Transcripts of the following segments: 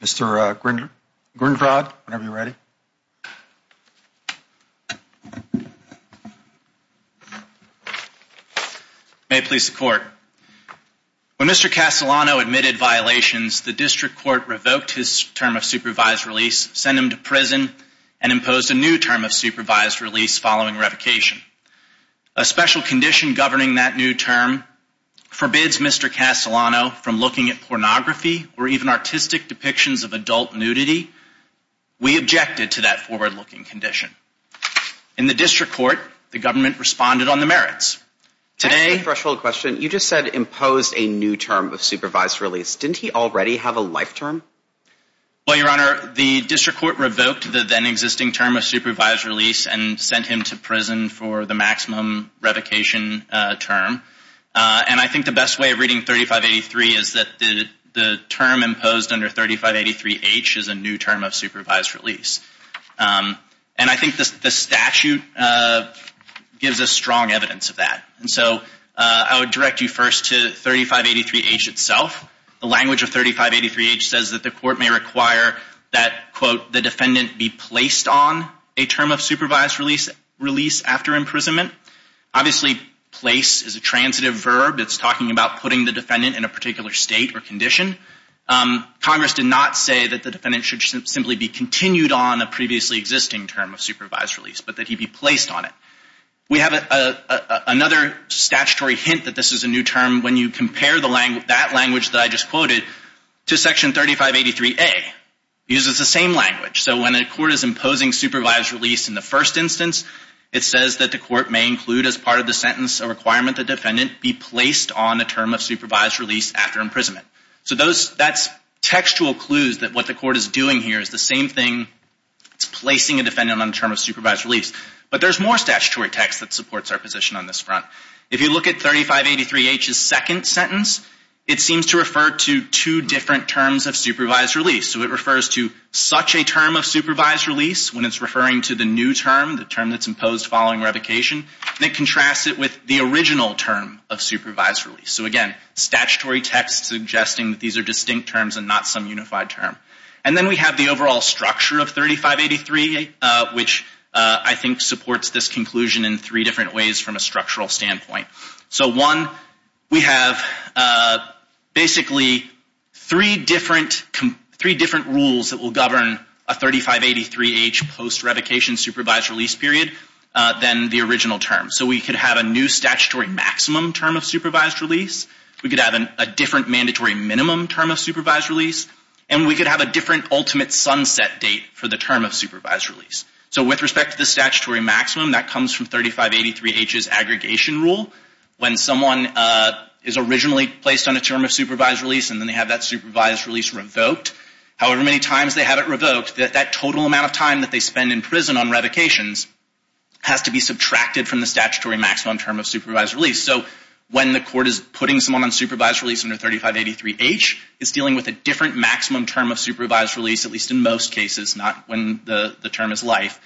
Mr. Grinvrod, whenever you're ready. May it please the court. When Mr. Castellano admitted violations, the district court revoked his term of supervised release, sent him to prison, and imposed a new term of supervised release following revocation. A special condition governing that new term forbids Mr. Castellano from looking at pornography or even artistic depictions of adult nudity. We objected to that forward-looking condition. In the district court, the government responded on the merits. Today... That's the threshold question. You just said imposed a new term of supervised release. Didn't he already have a life term? Well, your honor, the district court revoked the then existing term of supervised release and sent him to prison for the maximum revocation term. And I think the best way of reading 3583 is that the term imposed under 3583H is a new term of supervised release. And I think the statute gives us strong evidence of that. And so I would direct you first to 3583H itself. The language of 3583H says that the court may require that, quote, the defendant be placed on a term of supervised release after imprisonment. Obviously, place is a defendant in a particular state or condition. Congress did not say that the defendant should simply be continued on a previously existing term of supervised release, but that he be placed on it. We have another statutory hint that this is a new term when you compare that language that I just quoted to section 3583A. It uses the same language. So when a court is imposing supervised release in the first instance, it says that the court may include as part of the sentence a requirement that the defendant be placed on a term of supervised release after imprisonment. So those, that's textual clues that what the court is doing here is the same thing. It's placing a defendant on a term of supervised release. But there's more statutory text that supports our position on this front. If you look at 3583H's second sentence, it seems to refer to two different terms of supervised release. So it refers to such a term of supervised release when it's referring to the new term, the term that's used. It contrasts it with the original term of supervised release. So again, statutory text suggesting that these are distinct terms and not some unified term. And then we have the overall structure of 3583, which I think supports this conclusion in three different ways from a structural standpoint. So one, we have basically three different rules that will govern a 3583H post-revocation supervised release period than the original term. So we could have a new statutory maximum term of supervised release. We could have a different mandatory minimum term of supervised release. And we could have a different ultimate sunset date for the term of supervised release. So with respect to the statutory maximum, that comes from 3583H's aggregation rule. When someone is originally placed on a term of supervised release and then they have that supervised release revoked, however many times they have it revoked, that total amount of time that they spend in prison on revocations has to be subtracted from the statutory maximum term of supervised release. So when the court is putting someone on supervised release under 3583H, it's dealing with a different maximum term of supervised release, at least in most cases, not when the term is life,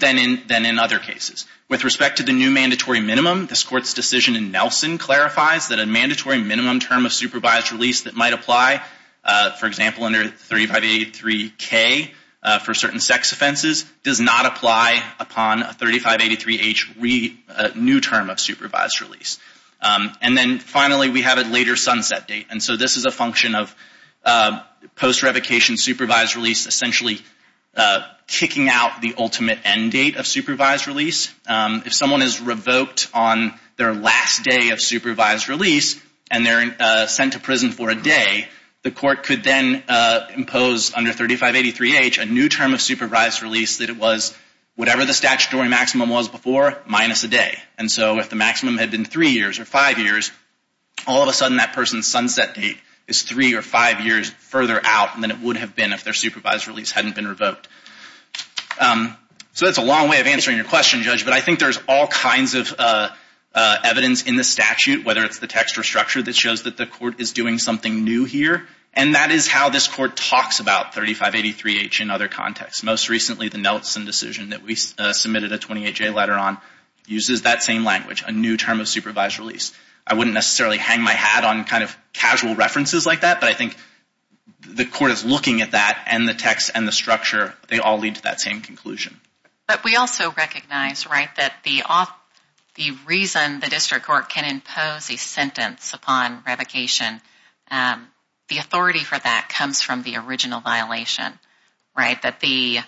than in other cases. With respect to the new mandatory minimum, this Court's decision in Nelson clarifies that a mandatory minimum term of supervised release that might apply, for example, under 3583K for certain sex offenses, does not apply upon a 3583H new term of supervised release. And then finally, we have a later sunset date. And so this is a function of post-revocation supervised release essentially kicking out the ultimate end date of supervised release. If someone is revoked on their last day of supervised release and they're sent to prison for a day, the court could then impose under 3583H a new term of supervised release that it was whatever the statutory maximum was before minus a day. And so if the maximum had been three years or five years, all of a sudden that person's sunset date is three or five years further out than it would have been if their supervised release hadn't been revoked. So that's a long way of answering your question, Judge, but I think there's all kinds of evidence in the statute, whether it's the text or structure that shows that the court is doing something new here, and that is how this court talks about 3583H in other contexts. Most recently, the Nelson decision that we submitted a 28-J letter on uses that same language, a new term of supervised release. I wouldn't necessarily hang my hat on kind of casual references like that, but I think the court is looking at that and the text and the structure, they all lead to that same conclusion. But we also recognize, right, that the reason the district court can impose a sentence upon revocation, the authority for that comes from the original violation, right? That the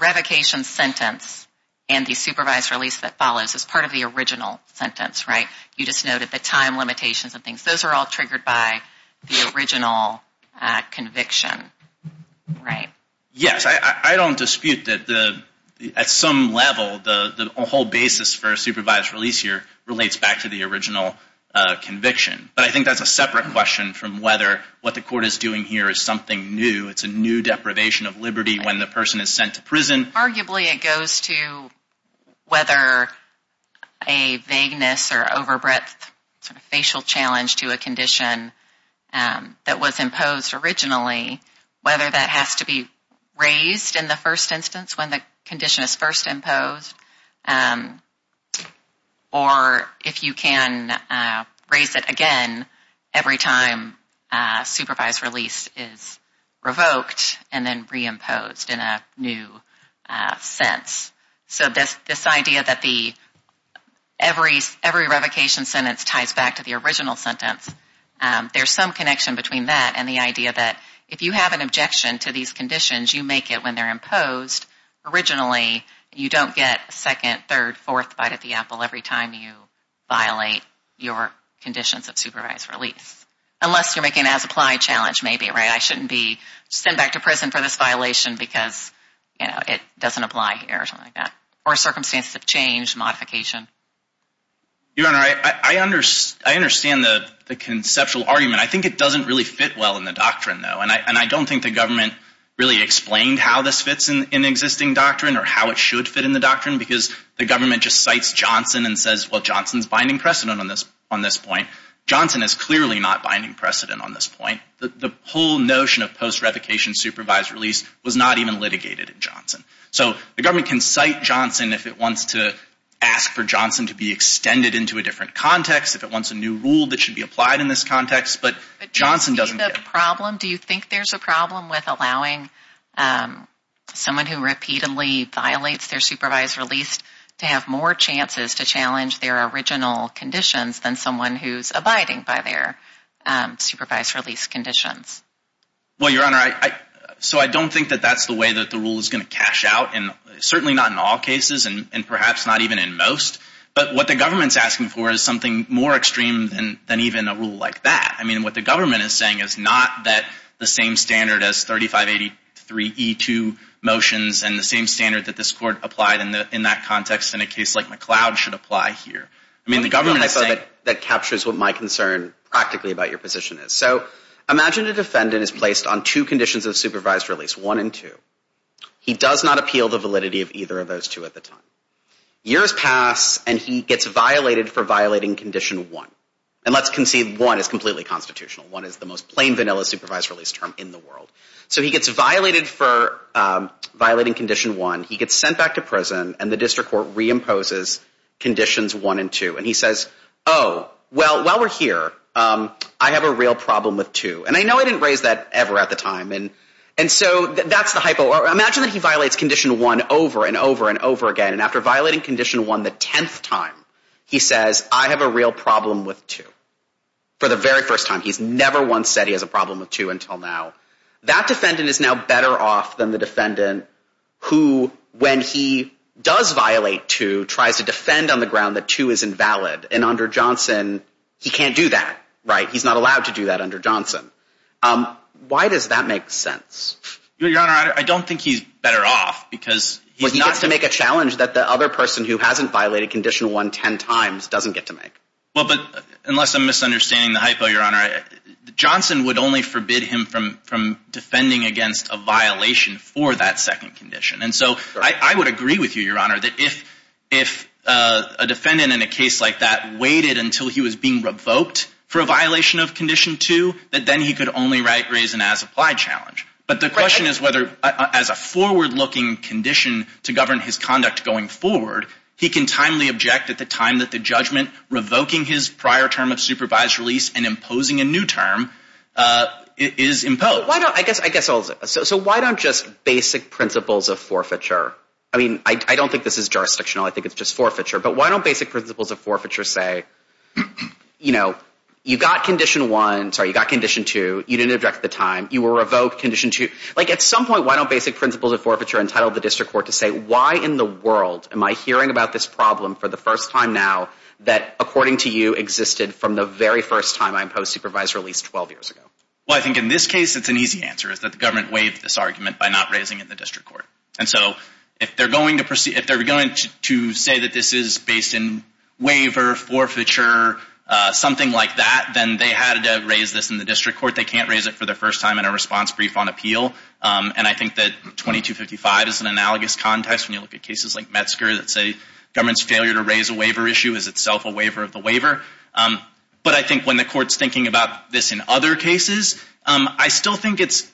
revocation sentence and the supervised release that follows is part of the original sentence, right? You just noted the time limitations and things. Those are all triggered by the original conviction, right? Yes. I don't dispute that at some level the whole basis for a supervised release here relates back to the original conviction, but I think that's a separate question from whether what the court is doing here is something new. It's a new deprivation of liberty when the person is sent to prison. Arguably, it goes to whether a vagueness or overbreadth sort of facial challenge to a condition that was imposed originally, whether that has to be raised in the first instance when the condition is first imposed, or if you can raise it again every time a supervised release is revoked and then reimposed in a new sense. So this idea that every revocation sentence ties back to the original sentence, there's some connection between that and the idea that if you have an objection to these conditions, you make it when they're imposed. Originally, you don't get a second, third, fourth bite at the apple every time you violate your conditions of supervised release, unless you're making an as-applied challenge, maybe, right? I shouldn't be sent back to prison for this violation because it doesn't apply here or something like that, or circumstances have changed, modification. Your Honor, I understand the conceptual argument. I think it doesn't really fit well in the fits in existing doctrine or how it should fit in the doctrine because the government just cites Johnson and says, well, Johnson's binding precedent on this point. Johnson is clearly not binding precedent on this point. The whole notion of post-revocation supervised release was not even litigated in Johnson. So the government can cite Johnson if it wants to ask for Johnson to be extended into a different context, if it wants a new rule that should be applied in this context, but Johnson doesn't Do you think there's a problem with allowing someone who repeatedly violates their supervised release to have more chances to challenge their original conditions than someone who's abiding by their supervised release conditions? Well, Your Honor, so I don't think that that's the way that the rule is going to cash out, certainly not in all cases and perhaps not even in most, but what the government's asking for is something more extreme than even a rule like that. I mean, what the government is saying is not that the same standard as 3583E2 motions and the same standard that this Court applied in that context in a case like McLeod should apply here. I mean, the government is saying That captures what my concern practically about your position is. So imagine a defendant is placed on two conditions of supervised release, one and two. He does not appeal the validity of either of those two at the time. Years pass and he gets violated for violating condition one. And let's concede one is completely constitutional. One is the most plain vanilla supervised release term in the world. So he gets violated for violating condition one. He gets sent back to prison and the district court reimposes conditions one and two. And he says, oh, well, while we're here, I have a real problem with two. And I know I didn't raise that ever at the time. And so that's the hypo. Imagine that he violates condition one over and over and over again. And after violating condition one the 10th time, he says, I have a real problem with two. For the very first time. He's never once said he has a problem with two until now. That defendant is now better off than the defendant who when he does violate two, tries to defend on the ground that two is invalid. And under Johnson, he can't do that, right? He's not allowed to do that under Johnson. Why does that make sense? Your Honor, I don't think he's better off because Well, he gets to make a challenge that the other person who hasn't violated condition one 10 times doesn't get to make. Well, but unless I'm misunderstanding the hypo, your Honor, Johnson would only forbid him from defending against a violation for that second condition. And so I would agree with you, your Honor, that if a defendant in a case like that waited until he was being revoked for a violation of condition two, that then he could only raise an as applied challenge. But the question is whether as a forward looking condition to govern his at the time that the judgment revoking his prior term of supervised release and imposing a new term is imposed. I guess I guess so. So why don't just basic principles of forfeiture? I mean, I don't think this is jurisdiction. I think it's just forfeiture. But why don't basic principles of forfeiture say, you know, you've got condition one. Sorry, you got condition two. You didn't object the time you were revoked condition two. Like at some point, why don't basic principles of forfeiture entitled the district court to say, why in the world am I hearing about this problem for the first time now that, according to you, existed from the very first time I imposed supervised release 12 years ago? Well, I think in this case, it's an easy answer is that the government waived this argument by not raising it in the district court. And so if they're going to proceed, if they're going to say that this is based in waiver, forfeiture, something like that, then they had to raise this in the district court. They can't raise it for the first time in a response brief on appeal. And I think that 2255 is an analogous context when you look at cases like Metzger that say government's failure to raise a waiver issue is itself a waiver of the waiver. But I think when the court's thinking about this in other cases, I still think it's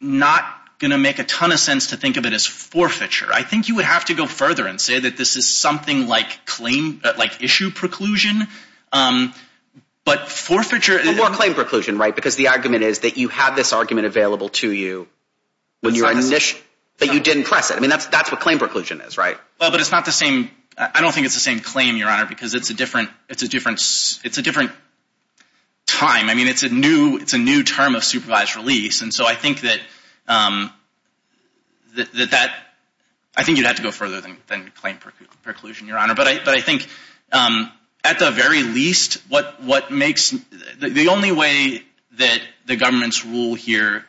not going to make a ton of sense to think of it as forfeiture. I think you would have to go further and say that this is something like claim, like issue preclusion. But forfeiture- More claim preclusion, right? Because the argument is that you have this argument available to you, but you didn't press it. I mean, that's what claim preclusion is, right? Well, but it's not the same, I don't think it's the same claim, Your Honor, because it's a different, it's a different, it's a different time. I mean, it's a new, it's a new term of supervised release. And so I think that, I think you'd have to go further than claim preclusion, Your Honor. But I think at the very least, what makes, the only way that the government's rule here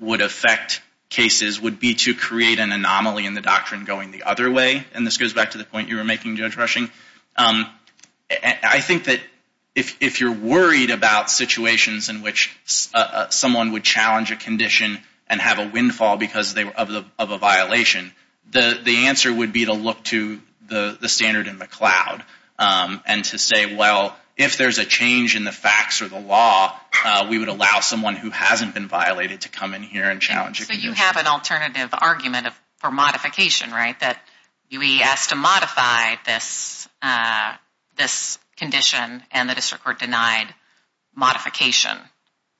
would affect cases would be to create an anomaly in the doctrine going the other way. And this goes back to the point you were making, Judge Rushing. I think that if you're worried about situations in which someone would challenge a condition and have a windfall because of a violation, the answer would be to look to the standard in the cloud and to say, well, if there's a change in the facts or the law, we would allow someone who hasn't been violated to come in here and challenge a condition. So you have an alternative argument for modification, right? That we asked to modify this condition and the district court denied modification,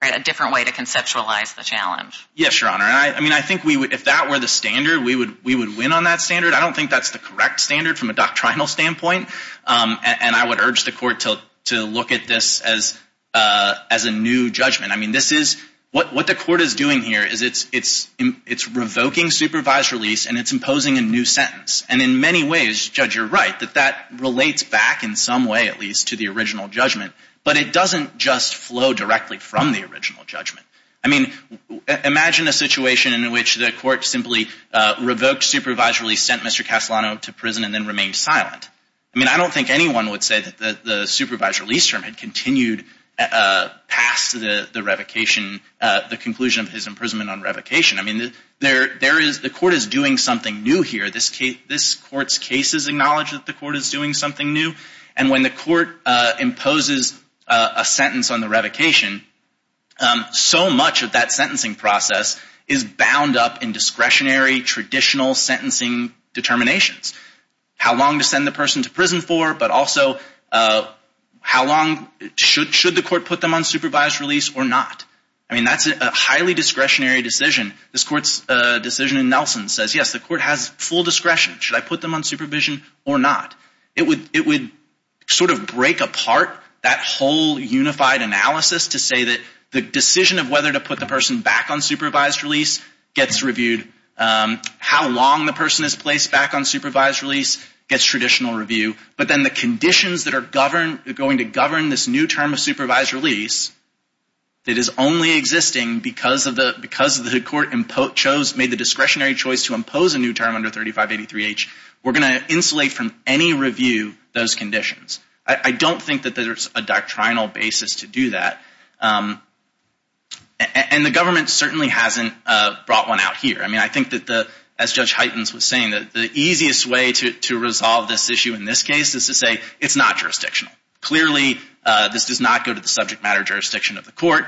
right? A different way to conceptualize the challenge. Yes, Your Honor. I mean, I think we would, if that were the standard, we would win on that standard. I don't think that's the correct standard from a doctrinal standpoint. And I would urge the court to look at this as a new judgment. I mean, this is, what the court is doing here is it's revoking supervised release and it's imposing a new sentence. And in many ways, Judge, you're right, that that relates back in some way, at least, to the original judgment. But it doesn't just flow directly from the original judgment. I mean, imagine a situation in which the court simply revoked supervised release, sent Mr. Castellano to prison, and then remained silent. I mean, I don't think anyone would say that the supervised release term had continued past the revocation, the conclusion of his imprisonment on revocation. I mean, the court is doing something new here. This court's cases acknowledge that the court is doing something new. And when the court imposes a sentence on the revocation, so much of that sentencing process is bound up in discretionary, traditional sentencing determinations. How long to send the person to prison for, but also how long, should the court put them on supervised release or not? I mean, that's a highly discretionary decision. This court's decision in Nelson says, yes, the court has full discretion. Should I put them on supervision or not? It would sort of break apart that whole unified analysis to say that the decision of whether to put the person back on supervised release gets reviewed. How long the person is placed back on supervised release gets traditional review. But then the conditions that are going to govern this new term of supervised release that is only existing because the court chose, made the discretionary choice to impose a new term under 3583H, we're going to insulate from any review those conditions. I don't think that there's a doctrinal basis to do that. And the government certainly hasn't brought one out here. I mean, I think that the, as Judge Heitens was saying, that the easiest way to resolve this issue in this case is to say it's not jurisdictional. Clearly, this does not go to the subject matter jurisdiction of the court.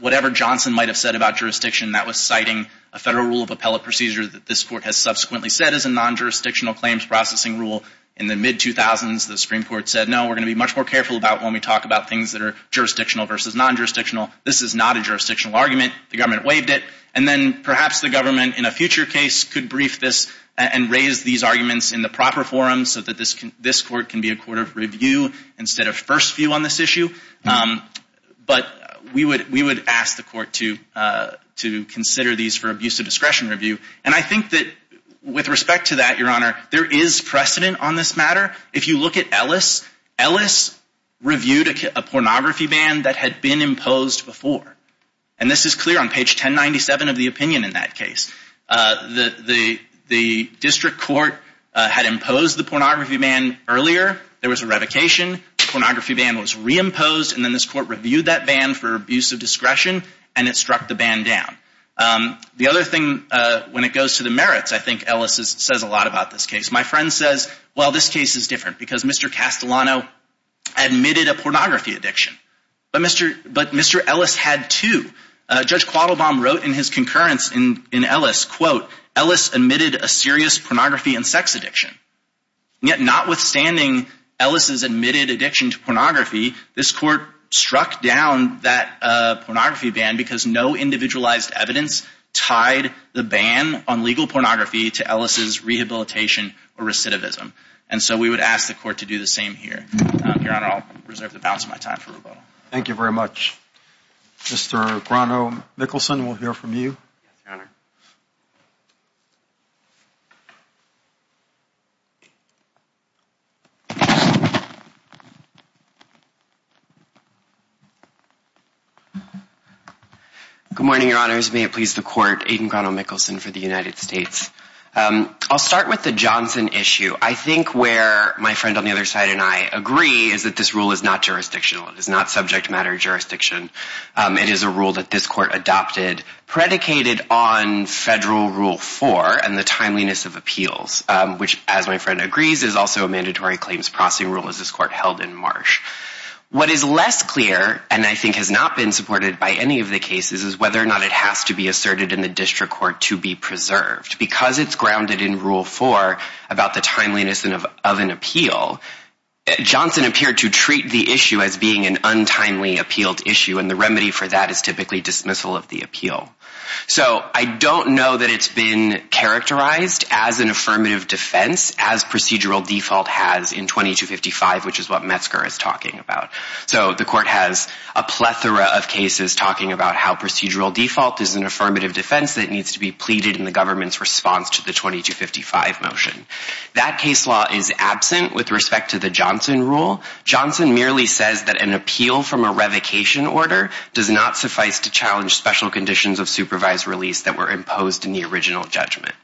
Whatever Johnson might have said about jurisdiction, that was citing a federal rule of appellate procedure that this court has subsequently said is a non-jurisdictional claims processing rule. In the mid-2000s, the Supreme Court said, no, we're going to be much more careful about when we talk about things that are jurisdictional versus non-jurisdictional. This is not a jurisdictional argument. The government waived it. And then perhaps the government in a future case could brief this and raise these arguments in the proper forum so that this court can be a court of review instead of first view on this issue. But we would ask the court to consider these for abuse of discretion review. And I think that with respect to that, Your Honor, there is precedent on this matter. If you look at Ellis, Ellis reviewed a pornography ban that had been imposed before. And this is clear on page 1097 of the opinion in that case. The district court had imposed the pornography ban earlier. There was a revocation. The pornography ban was reimposed. And then this court reviewed that ban for abuse of discretion, and it struck the ban down. The other thing, when it goes to the merits, I think Ellis says a lot about this case. My friend says, well, this case is different because Mr. Castellano admitted a pornography addiction. But Mr. Ellis had two. Judge Quattlebaum wrote in his concurrence in Ellis, quote, Ellis admitted a serious pornography and sex addiction. Yet notwithstanding Ellis's admitted addiction to pornography, this court struck down that pornography ban because no individualized evidence tied the ban on legal pornography to Ellis's rehabilitation or recidivism. And so we would ask the court to do the same here. Your Honor, I'll reserve the balance of my time for rebuttal. Thank you very much. Mr. Grano-Mikkelsen, we'll hear from you. Good morning, Your Honors. May it please the court, Aiden Grano-Mikkelsen for the United States. I'll start with the Johnson issue. I think where my friend on the other side and I agree is that this rule is not jurisdictional. It is not subject matter jurisdiction. It is a rule that this court adopted predicated on federal Rule 4 and the timeliness of appeals, which as my friend agrees, is also a mandatory claims processing rule as this court held in Marsh. What is less clear and I think has not been supported by any of the cases is whether or not it has to be asserted in the district court to be preserved. Because it's grounded in Rule 4 about the timeliness of an appeal, Johnson appeared to treat the issue as being an untimely appealed issue, and the remedy for that is typically dismissal of the appeal. So I don't know that it's been characterized as an affirmative defense as procedural default has in 2255, which is what Metzger is talking about. So the court has a plethora of cases talking about how procedural default is an affirmative defense that needs to be pleaded in the government's response to the 2255 motion. That case law is absent with respect to the Johnson rule. Johnson merely says that an appeal from a revocation order does not suffice to challenge special conditions of supervised release that were imposed in the original judgment.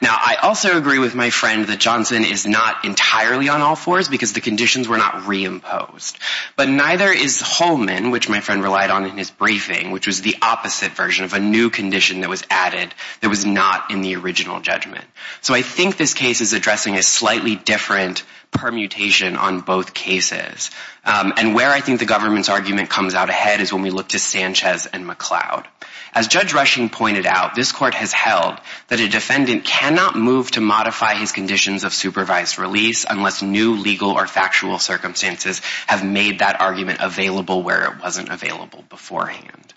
Now, I also agree with my friend that Johnson is not entirely on all fours because the conditions were not reimposed. But neither is Holman, which my friend relied on in his briefing, which was the opposite version of a new condition that was added that was not in the original judgment. So I think this case is addressing a slightly different permutation on both cases. And where I think the government's argument comes out ahead is when we look to Sanchez and McLeod. As Judge Rushing pointed out, this court has held that a defendant cannot move to modify his conditions of supervised release unless new legal or factual circumstances have made that argument available where it wasn't available beforehand.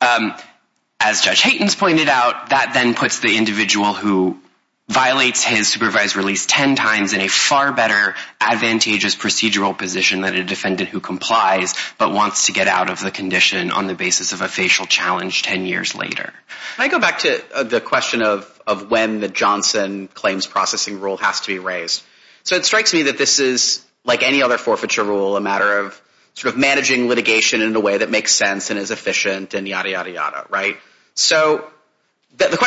As Judge Haytens pointed out, that then puts the individual who violates his supervised release ten times in a far better advantageous procedural position than a defendant who complies but wants to get out of the condition on the basis of a facial challenge ten years later. Can I go back to the question of when the Johnson claims processing rule has to be raised? So it strikes me that this is, like any other forfeiture rule, a matter of sort of managing litigation in a way that makes sense and is efficient and yada yada yada, right? So the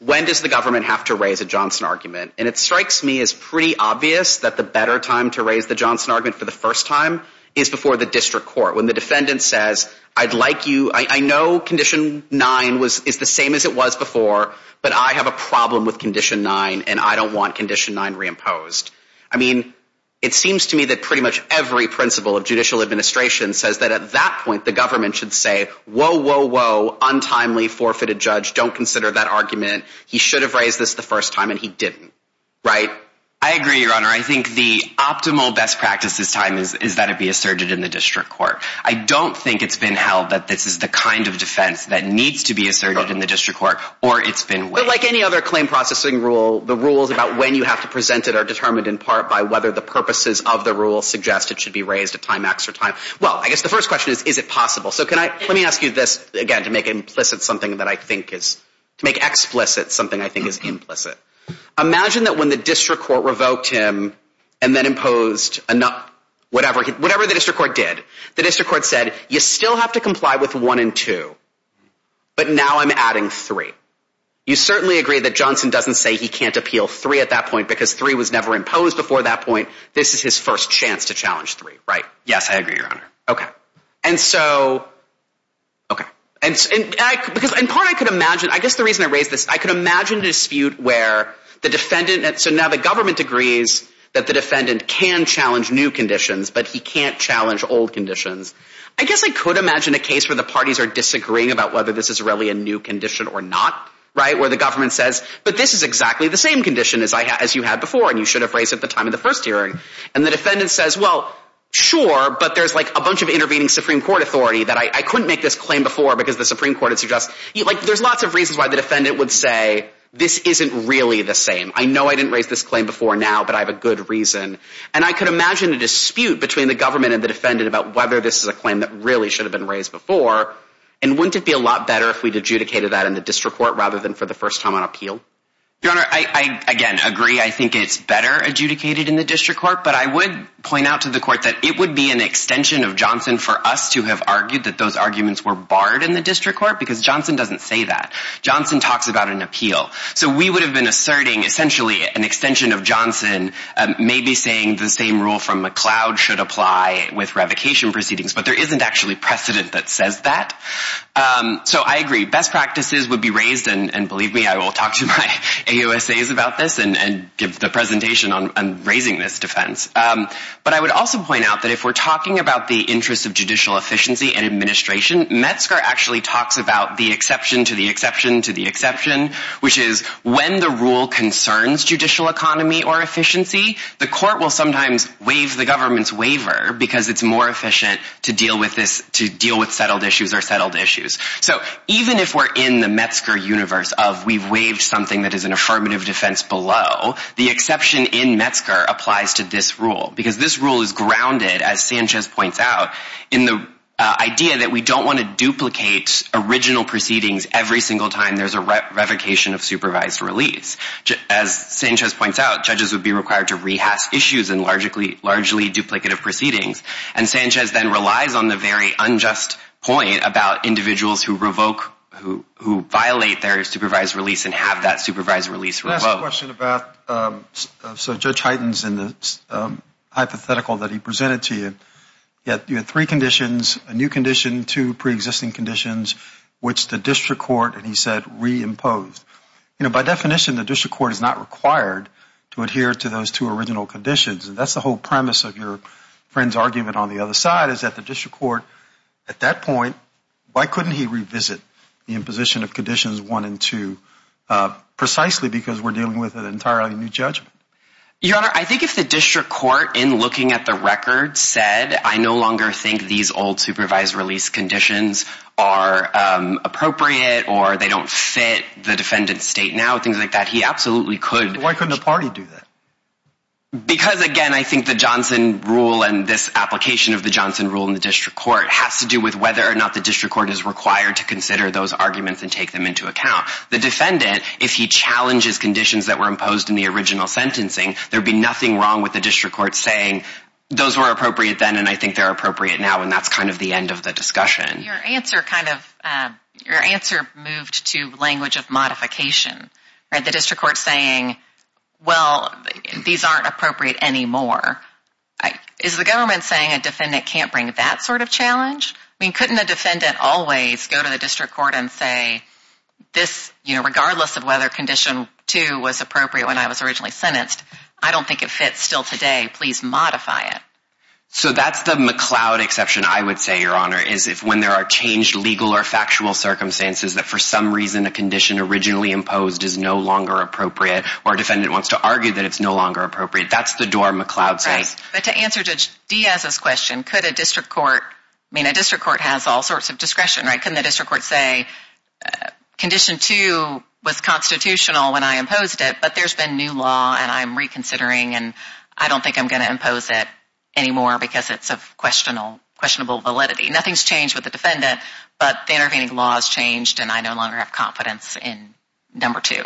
why does the government have to raise a Johnson argument? And it strikes me as pretty obvious that the better time to raise the Johnson argument for the first time is before the district court when the defendant says, I'd like you, I know condition nine is the same as it was before, but I have a problem with condition nine and I don't want condition nine reimposed. I mean, it seems to me that pretty much every principle of judicial administration says that at that point the government should say, whoa, whoa, whoa, untimely forfeited judge, don't consider that argument. He should have raised this the first time and he didn't, right? I agree, Your Honor. I think the optimal best practice this time is, is that it be asserted in the district court. I don't think it's been held that this is the kind of defense that needs to be asserted in the district court or it's been, but like any other claim processing rule, the rules about when you have to present it are determined in part by whether the purposes of the rule suggest it should be raised at time X or time. Well, I guess the first question is, is it possible? So can I, let me ask you this again to make implicit something that I think is to make explicit something I think is implicit. Imagine that when the district court revoked him and then imposed enough, whatever, whatever the district court did, the district court said, you still have to comply with one and two, but now I'm adding three. You certainly agree that Johnson doesn't say he can't appeal three at that point because three was never imposed before that point. This is his first chance to challenge three, right? Yes, I agree, your honor. Okay. And so, okay. And because in part I could imagine, I guess the reason I raised this, I could imagine a dispute where the defendant, so now the government agrees that the defendant can challenge new conditions, but he can't challenge old conditions. I guess I could imagine a case where the parties are disagreeing about whether this is really a new condition or not, right? Where the government says, but this is exactly the same condition as I had, as you had before. And you should have raised at the time of the first hearing. And the defendant says, well, sure, but there's like a bunch of intervening Supreme court authority that I couldn't make this claim before because the Supreme court had suggested like, there's lots of reasons why the defendant would say, this isn't really the same. I know I didn't raise this claim before now, but I have a good reason. And I could imagine a dispute between the government and the defendant about whether this is a claim that really should have been raised before. And wouldn't it be a lot better if we'd adjudicated that in the district court rather than for the first time on appeal? Your Honor, I, I, again, agree. I think it's better adjudicated in the district court, but I would point out to the court that it would be an extension of Johnson for us to have argued that those arguments were barred in the district court because Johnson doesn't say that. Johnson talks about an appeal. So we would have been asserting essentially an extension of Johnson, um, maybe saying the same rule from McLeod should apply with revocation proceedings, but there isn't actually precedent that says that. Um, so I agree. Best practices would be raised and, and believe me, I will talk to my AUSAs about this and, and give the presentation on raising this defense. Um, but I would also point out that if we're talking about the interests of judicial efficiency and administration, Metzger actually talks about the exception to the exception to the exception, which is when the rule concerns judicial economy or efficiency, the court will sometimes waive the government's waiver because it's more efficient to deal with this, to deal with settled issues or settled issues. So even if we're in the Metzger universe of we've waived something that is an affirmative defense below, the exception in Metzger applies to this rule because this rule is grounded, as Sanchez points out, in the idea that we don't want to duplicate original proceedings every single time there's a revocation of supervised release. As Sanchez points out, judges would be required to rehash issues in largely, largely duplicative proceedings. And Sanchez then relies on the very unjust point about individuals who revoke, who, who violate their supervised release and have that supervised release revoked. Last question about, um, so Judge Hyten's in the, um, hypothetical that he presented to you, you had, you had three conditions, a new condition, two preexisting conditions, which the district court, and he said, reimposed. You know, by definition, the district court is not required to adhere to those two original conditions. And that's the whole premise of your friend's argument on the other side is that the district court at that point, why couldn't he revisit the imposition of conditions one and two, uh, precisely because we're dealing with an entirely new judgment? Your Honor, I think if the district court in looking at the record said, I no longer think these old supervised release conditions are, um, appropriate or they don't fit the defendant's state now, things like that. He rule and this application of the Johnson rule in the district court has to do with whether or not the district court is required to consider those arguments and take them into account. The defendant, if he challenges conditions that were imposed in the original sentencing, there'd be nothing wrong with the district court saying those were appropriate then. And I think they're appropriate now. And that's kind of the end of the discussion. Your answer kind of, um, your answer moved to language of modification, right? The district court saying, well, these aren't appropriate anymore. Is the government saying a defendant can't bring that sort of challenge? I mean, couldn't the defendant always go to the district court and say this, you know, regardless of whether condition two was appropriate when I was originally sentenced, I don't think it fits still today. Please modify it. So that's the McLeod exception. I would say your Honor is if when there are changed legal or factual circumstances that for some reason, a condition originally imposed is no longer appropriate or defendant wants to argue that it's no longer appropriate. That's the door McLeod says. But to answer Judge Diaz's question, could a district court, I mean, a district court has all sorts of discretion, right? Couldn't the district court say condition two was constitutional when I imposed it, but there's been new law and I'm reconsidering and I don't think I'm going to impose it anymore because it's of questionable validity. Nothing's changed with the defendant, but the intervening law has changed and I no longer have confidence in number two.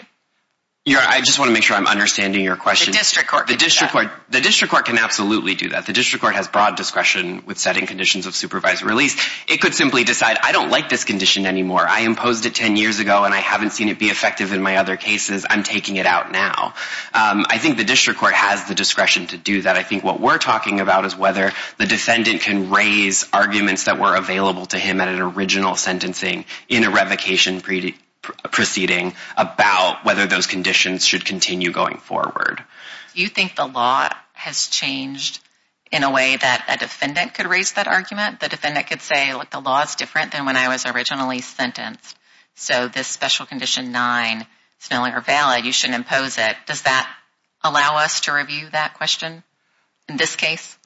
Your Honor, I just want to make sure I'm understanding your question. The district court can do that. The district court can absolutely do that. The district court has broad discretion with setting conditions of supervised release. It could simply decide I don't like this condition anymore. I imposed it 10 years ago and I haven't seen it be effective in my other cases. I'm taking it out now. I think the district court has the discretion to do that. I think what we're talking about is whether the defendant can raise arguments that were available to him at an original sentencing in a revocation proceeding about whether those conditions should continue going forward. You think the law has changed in a way that a defendant could raise that argument? The defendant could say, look, the law's different than when I was originally sentenced, so this special condition nine is no longer valid. You shouldn't impose it. Does that allow us to review that question in this case?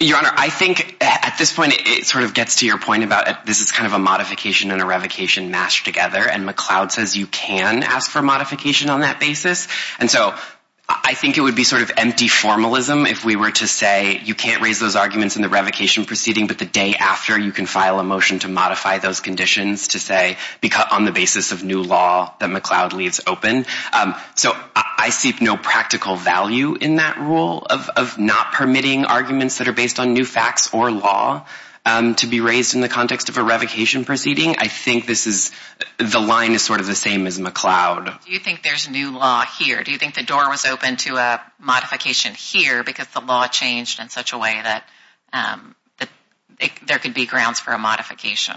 Your Honor, it gets to your point about this is kind of a modification and a revocation mashed together and McLeod says you can ask for modification on that basis. And so I think it would be sort of empty formalism if we were to say you can't raise those arguments in the revocation proceeding, but the day after you can file a motion to modify those conditions to say on the basis of new law that McLeod leaves open. So I see no practical value in that for law to be raised in the context of a revocation proceeding. I think the line is sort of the same as McLeod. Do you think there's new law here? Do you think the door was opened to a modification here because the law changed in such a way that there could be grounds for a modification?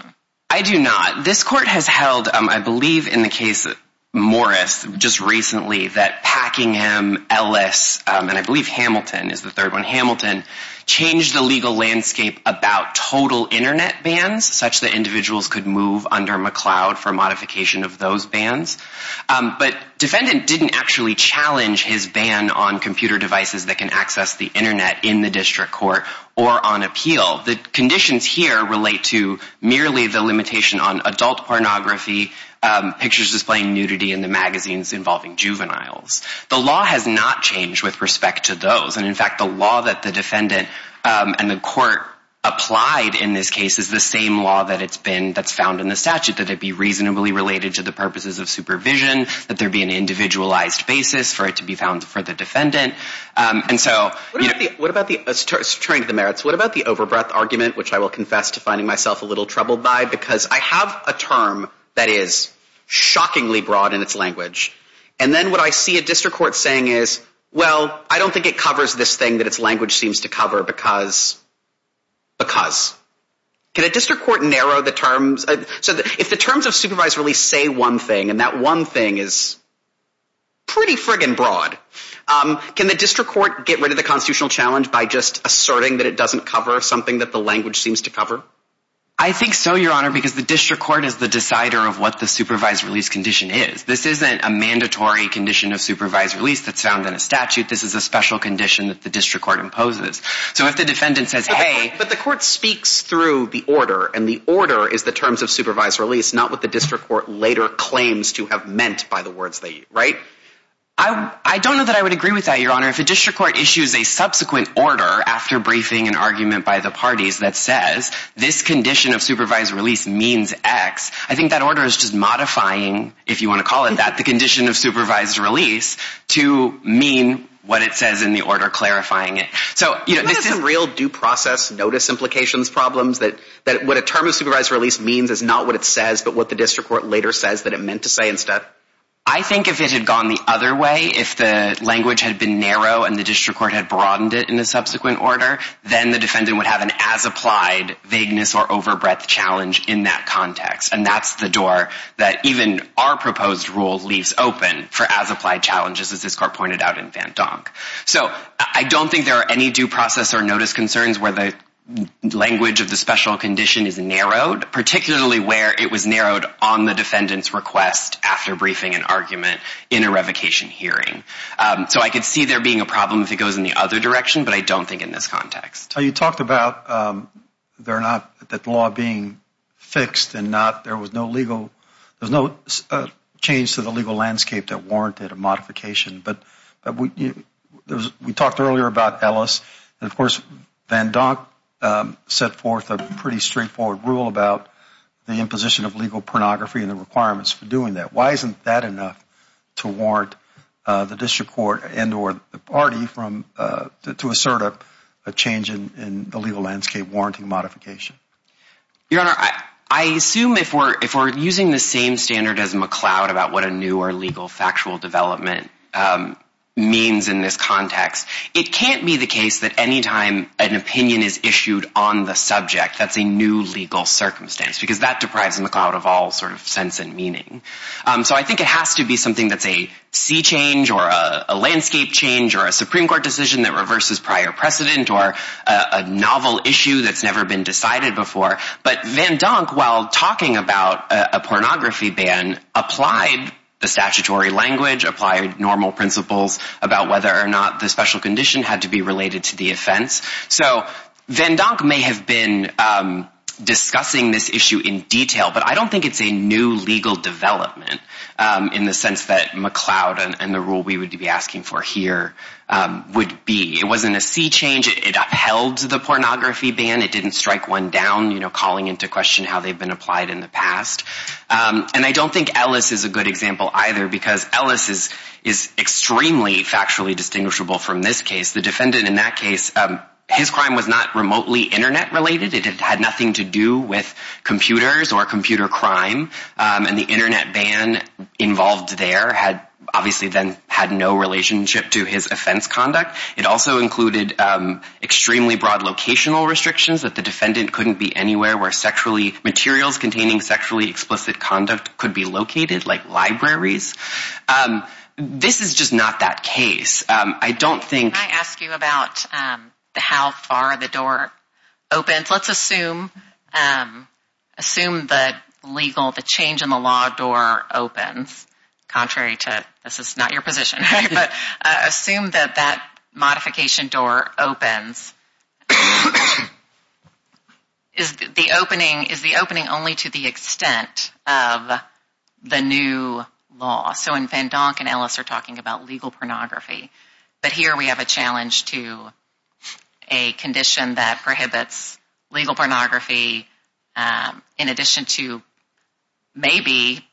I do not. This Court has held, I believe in the case of Morris just recently, that Packingham, Ellis, and I believe Hamilton is the third one, Hamilton, changed the legal landscape about total Internet bans such that individuals could move under McLeod for modification of those bans. But defendant didn't actually challenge his ban on computer devices that can access the Internet in the district court or on appeal. The conditions here relate to merely the limitation on adult pornography, pictures displaying nudity in the magazines involving juveniles. The law has not changed with respect to those. And in fact, the law that the defendant and the Court applied in this case is the same law that it's been, that's found in the statute, that it be reasonably related to the purposes of supervision, that there be an individualized basis for it to be found for the defendant. And so... What about the, turning to the merits, what about the over-breath argument, which I will confess to finding myself a little troubled by, because I have a term that is shockingly broad in its language. And then what I see a district court saying is, well, I don't think it covers this thing that its language seems to cover because, because. Can a district court narrow the terms, so if the terms of supervised release say one thing and that one thing is pretty friggin' broad, can the district court get rid of the constitutional challenge by just asserting that it doesn't cover something that the language seems to cover? I think so, Your Honor, because the district court is the decider of what the supervised release condition is. This isn't a mandatory condition of supervised release that's found in a statute, this is a special condition that the district court imposes. So if the defendant says, hey... But the court speaks through the order, and the order is the terms of supervised release, not what the district court later claims to have meant by the words they use, right? I don't know that I would agree with that, Your Honor. If a district court issues a subsequent order after briefing an argument by the parties that says, this condition of supervised release means X, I think that order is just modifying, if you want to call it that, the condition of supervised release to mean what it says in the order clarifying it. So isn't there some real due process notice implications, problems, that what a term of supervised release means is not what it says, but what the district court later says that it meant to say instead? I think if it had gone the other way, if the language had been narrow and the district court had broadened it in a subsequent order, then the defendant would have an as-applied vagueness or overbreadth challenge in that context. And that's the door that even our court has opened for as-applied challenges, as this court pointed out in Van Donk. So I don't think there are any due process or notice concerns where the language of the special condition is narrowed, particularly where it was narrowed on the defendant's request after briefing an argument in a revocation hearing. So I could see there being a problem if it goes in the other direction, but I don't think in this context. You talked about that law being fixed and there was no change to the legal landscape that warranted a modification, but we talked earlier about Ellis, and of course Van Donk set forth a pretty straightforward rule about the imposition of legal pornography and the requirements for doing that. Why isn't that enough to warrant the district court and or the party to assert a change in the legal landscape warranting modification? Your Honor, I assume if we're using the same standard as McCloud about what a new or legal factual development means in this context, it can't be the case that anytime an opinion is issued on the subject, that's a new legal circumstance, because that deprives McCloud of all sort of sense and meaning. So I think it has to be something that's a sea change or a landscape change or a Supreme Court decision that reverses prior precedent or a novel issue that's never been decided before. But Van Donk, while talking about a pornography ban, applied the statutory language, applied normal principles about whether or not the special condition had to be related to the offense. So Van Donk may have been discussing this issue in detail, but I don't think it's a new legal development in the sense that McCloud and the rule we would be asking for here would be. It wasn't a sea change. It upheld the pornography ban. It didn't strike one down, you know, calling into question how they've been applied in the past. And I don't think Ellis is a good example, either, because Ellis is extremely factually distinguishable from this case. The defendant in that case, his crime was not remotely Internet related. It had nothing to do with computers or computer crime. And the Internet ban involved there had obviously then had no relationship to his offense conduct. It also included extremely broad locational restrictions that the defendant couldn't be anywhere where sexually explicit conduct could be located, like libraries. This is just not that case. Can I ask you about how far the door opens? Let's assume the change in the law door opens, contrary to, this is not your position, but assume that that modification door opens. Is the opening only to the extent of the new law? So when Van Donk and Ellis are talking about legal pornography, but here we have a challenge to a condition that prohibits legal pornography in addition to maybe,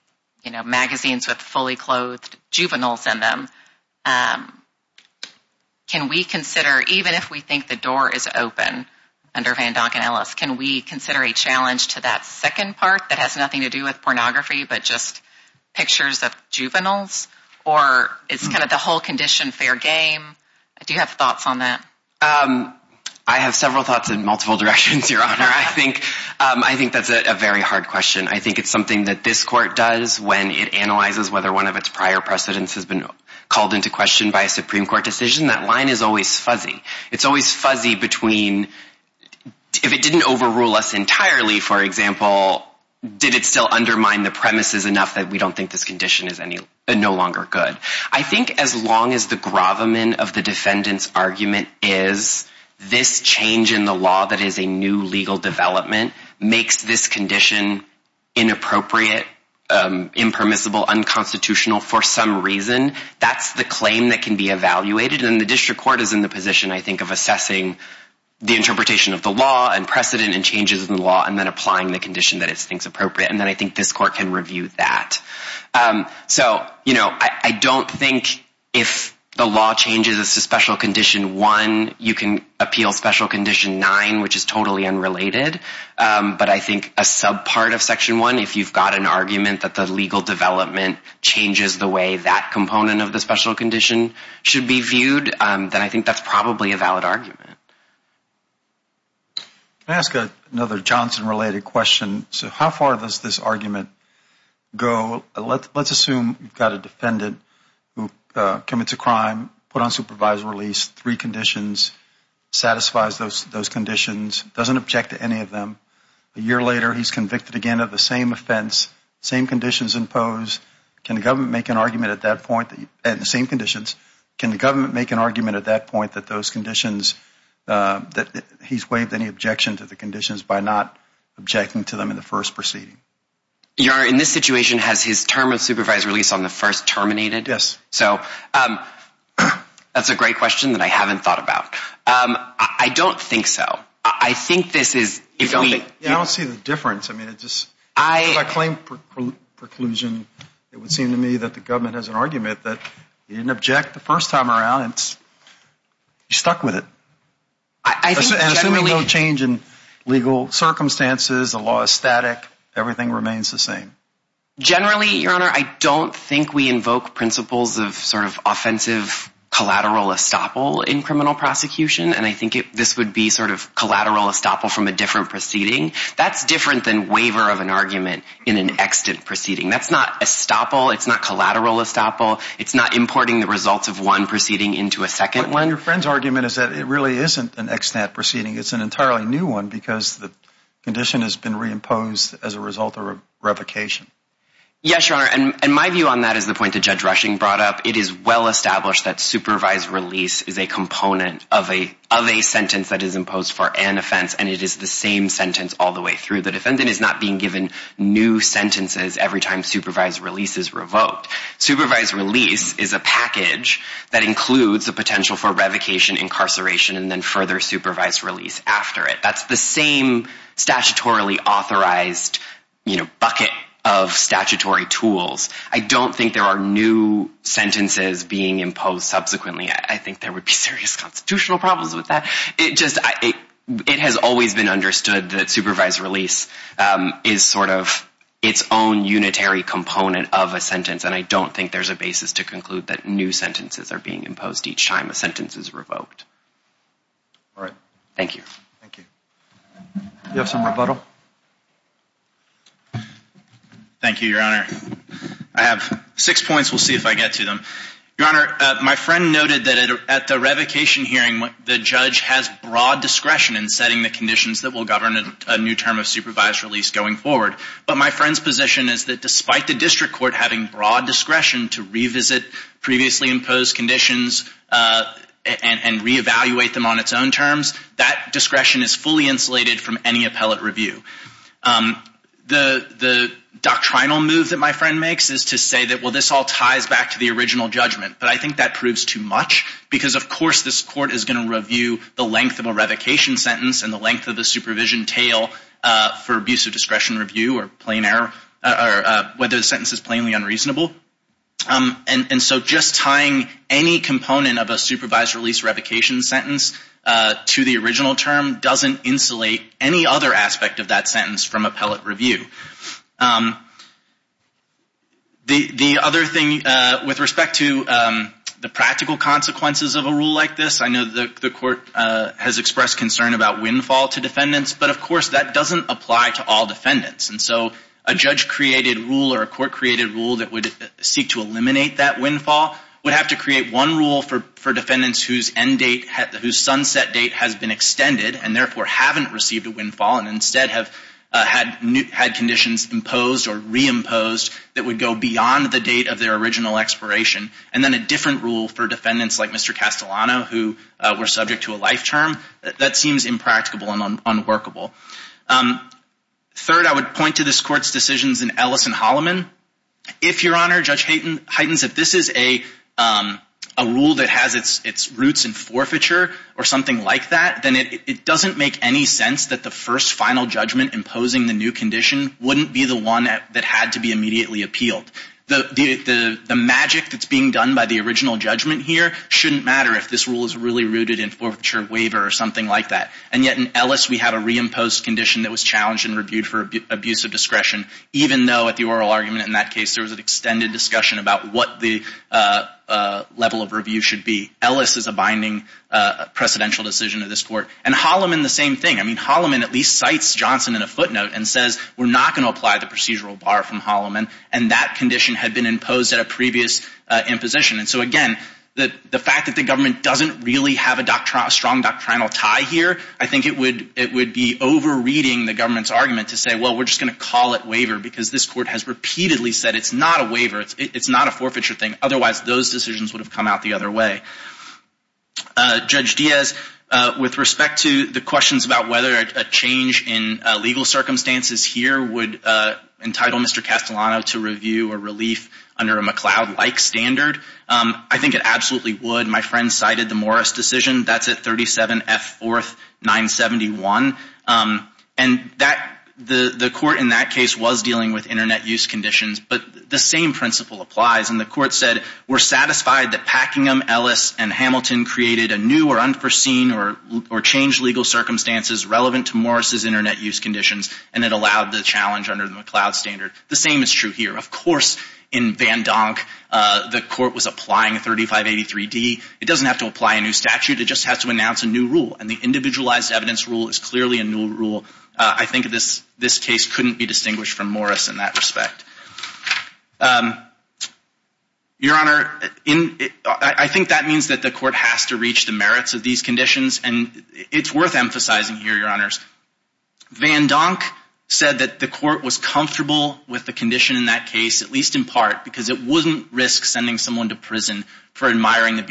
you know, magazines with fully clothed juveniles in them. Can we consider, even if we think the door is open under Van Donk and Ellis, can we consider a challenge to that second part that has nothing to do with pornography, but just pictures of juveniles? Or it's kind of the whole condition fair game? Do you have thoughts on that? I have several thoughts in multiple directions, Your Honor. I think that's a very hard question. I think it's something that this court does when it analyzes whether one of its prior precedents has been called into question by a Supreme Court decision. That line is always fuzzy. It's always fuzzy between, if it didn't overrule us entirely, for example, did it still undermine the premises enough that we don't think this condition is no longer good? I think as long as the gravamen of the defendant's argument is this change in the law that is a new legal development makes this condition inappropriate, impermissible, unconstitutional for some reason, that's the claim that can be evaluated. And the district court is in the position, I think, of assessing the interpretation of the law and precedent and changes in the law, and then applying the condition that it thinks appropriate. And then I think this court can review that. So I don't think if the law changes to Special Condition 1, you can appeal Special Condition 9, which is totally unrelated. But I think a subpart of Section 1, if you've got an that component of the special condition should be viewed, then I think that's probably a valid argument. Can I ask another Johnson-related question? So how far does this argument go? Let's assume you've got a defendant who commits a crime, put on supervised release, three conditions, satisfies those conditions, doesn't object to any of them. A year later, he's convicted again of the same offense, same conditions imposed. Can the government make an argument at that point, at the same conditions, can the government make an argument at that point that those conditions, that he's waived any objection to the conditions by not objecting to them in the first proceeding? Your Honor, in this situation, has his term of supervised release on the first terminated? Yes. So that's a great question that I haven't thought about. I don't think so. I don't see the difference. If I claim preclusion, it would seem to me that the government has an argument that he didn't object the first time around and he's stuck with it. And assuming no change in legal circumstances, the law is static, everything remains the same. Generally, Your Honor, I don't think we invoke principles of sort of offensive collateral estoppel in criminal prosecution. And I think this would be sort of collateral estoppel from a different proceeding. That's different than waiver of an argument in an extant proceeding. That's not estoppel, it's not collateral estoppel, it's not importing the results of one proceeding into a second one. One of your friend's argument is that it really isn't an extant proceeding. It's an entirely new one because the condition has been reimposed as a result of revocation. Yes, Your Honor. And my view on that is the point that Judge Rushing brought up. It is well established that supervised release is a component of a sentence that is imposed for an offense and it is the same sentence all the way through. The defendant is not being given new sentences every time supervised release is revoked. Supervised release is a package that includes the potential for revocation, incarceration, and then further supervised release after it. That's the same statutorily authorized bucket of statutory tools. I don't think there are new sentences being imposed subsequently. There would be serious constitutional problems with that. It has always been understood that supervised release is sort of its own unitary component of a sentence and I don't think there's a basis to conclude that new sentences are being imposed each time a sentence is revoked. All right. Thank you. Thank you. Do you have some rebuttal? Thank you, Your Honor. I have six points. We'll see if I get to them. Your Honor, my friend noted that at the revocation hearing, the judge has broad discretion in setting the conditions that will govern a new term of supervised release going forward, but my friend's position is that despite the district court having broad discretion to revisit previously imposed conditions and reevaluate them on its own terms, that discretion is fully insulated from any appellate review. The doctrinal move that my friend makes is to say that, well, this all ties back to the original judgment, but I think that proves too much because, of course, this court is going to review the length of a revocation sentence and the length of the supervision tail for abuse of discretion review or plain error or whether the sentence is plainly unreasonable. And so just tying any component of a supervised release revocation sentence to the original term doesn't insulate any other aspect of that sentence from appellate review. The other thing with respect to the practical consequences of a rule like this, I know the court has expressed concern about windfall to defendants, but of course that doesn't apply to all defendants. And so a judge-created rule or a court-created rule that would seek to eliminate that windfall would have to create one rule for defendants whose end date, whose sunset date, has been extended and therefore haven't received a windfall and instead have had conditions imposed or reimposed that would go beyond the date of their original expiration. And then a different rule for defendants like Mr. Castellano, who were subject to a life term, that seems impracticable and unworkable. Third, I would point to this court's decisions in Ellis and Holloman. If, Your Honor, Judge Heightens, if this is a rule that has its roots in forfeiture or something like that, then it doesn't make any sense that the first final judgment imposing the new condition wouldn't be the one that had to be immediately appealed. The magic that's being done by the original judgment here shouldn't matter if this rule is really rooted in forfeiture, waiver, or something like that. And yet in Ellis we have a reimposed condition that was challenged and reviewed for abuse of discretion, even though at the oral argument in that case there was an extended discussion about what the level of review should be. Ellis is a binding precedential decision of this court. And Holloman, the same thing. I mean, Holloman at least cites Johnson in a footnote and says we're not going to apply the procedural bar from Holloman. And that condition had been imposed at a previous imposition. And so again, the fact that the government doesn't really have a strong doctrinal tie here, I think it would be overreading the government's argument to say, well, we're just going to call it waiver because this court has repeatedly said it's not a waiver. It's not a forfeiture thing. Otherwise, those decisions would have come out the other way. Judge Diaz, with respect to the questions about whether a change in legal circumstances here would entitle Mr. Castellano to review a relief under a McLeod-like standard, I think it absolutely would. My friend cited the Morris decision. That's at 37 F 4th 971. And the court in that case was dealing with internet use conditions, but the same principle applies. And the court said, we're satisfied that Packingham, Ellis, and Hamilton created a new or unforeseen or changed legal circumstances relevant to Morris's internet use conditions, and it allowed the challenge under the McLeod standard. The same is true here. Of course, in Van Donk, the court was applying 3583D. It doesn't have to apply a new statute. It just has to announce a new rule. And the individualized evidence rule is clearly a new rule. I think this case couldn't be distinguished from Morris in that respect. Your Honor, I think that means that the court has to reach the merits of these conditions. And it's worth emphasizing here, Your Honors. Van Donk said that the court was comfortable with the condition in that case, at least in part, because it wouldn't risk sending someone to prison for admiring the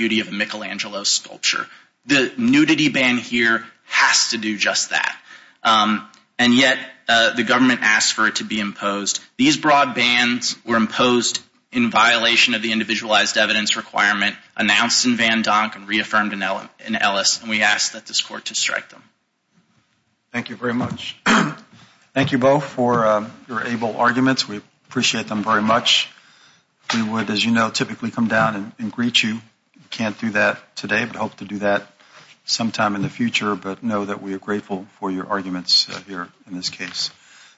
government asked for it to be imposed. These broad bans were imposed in violation of the individualized evidence requirement announced in Van Donk and reaffirmed in Ellis, and we asked that this court to strike them. Thank you very much. Thank you both for your able arguments. We appreciate them very much. We would, as you know, typically come down and greet you. Can't do that today, but hope to do that sometime in the future, but know that we are grateful for your arguments here in this case.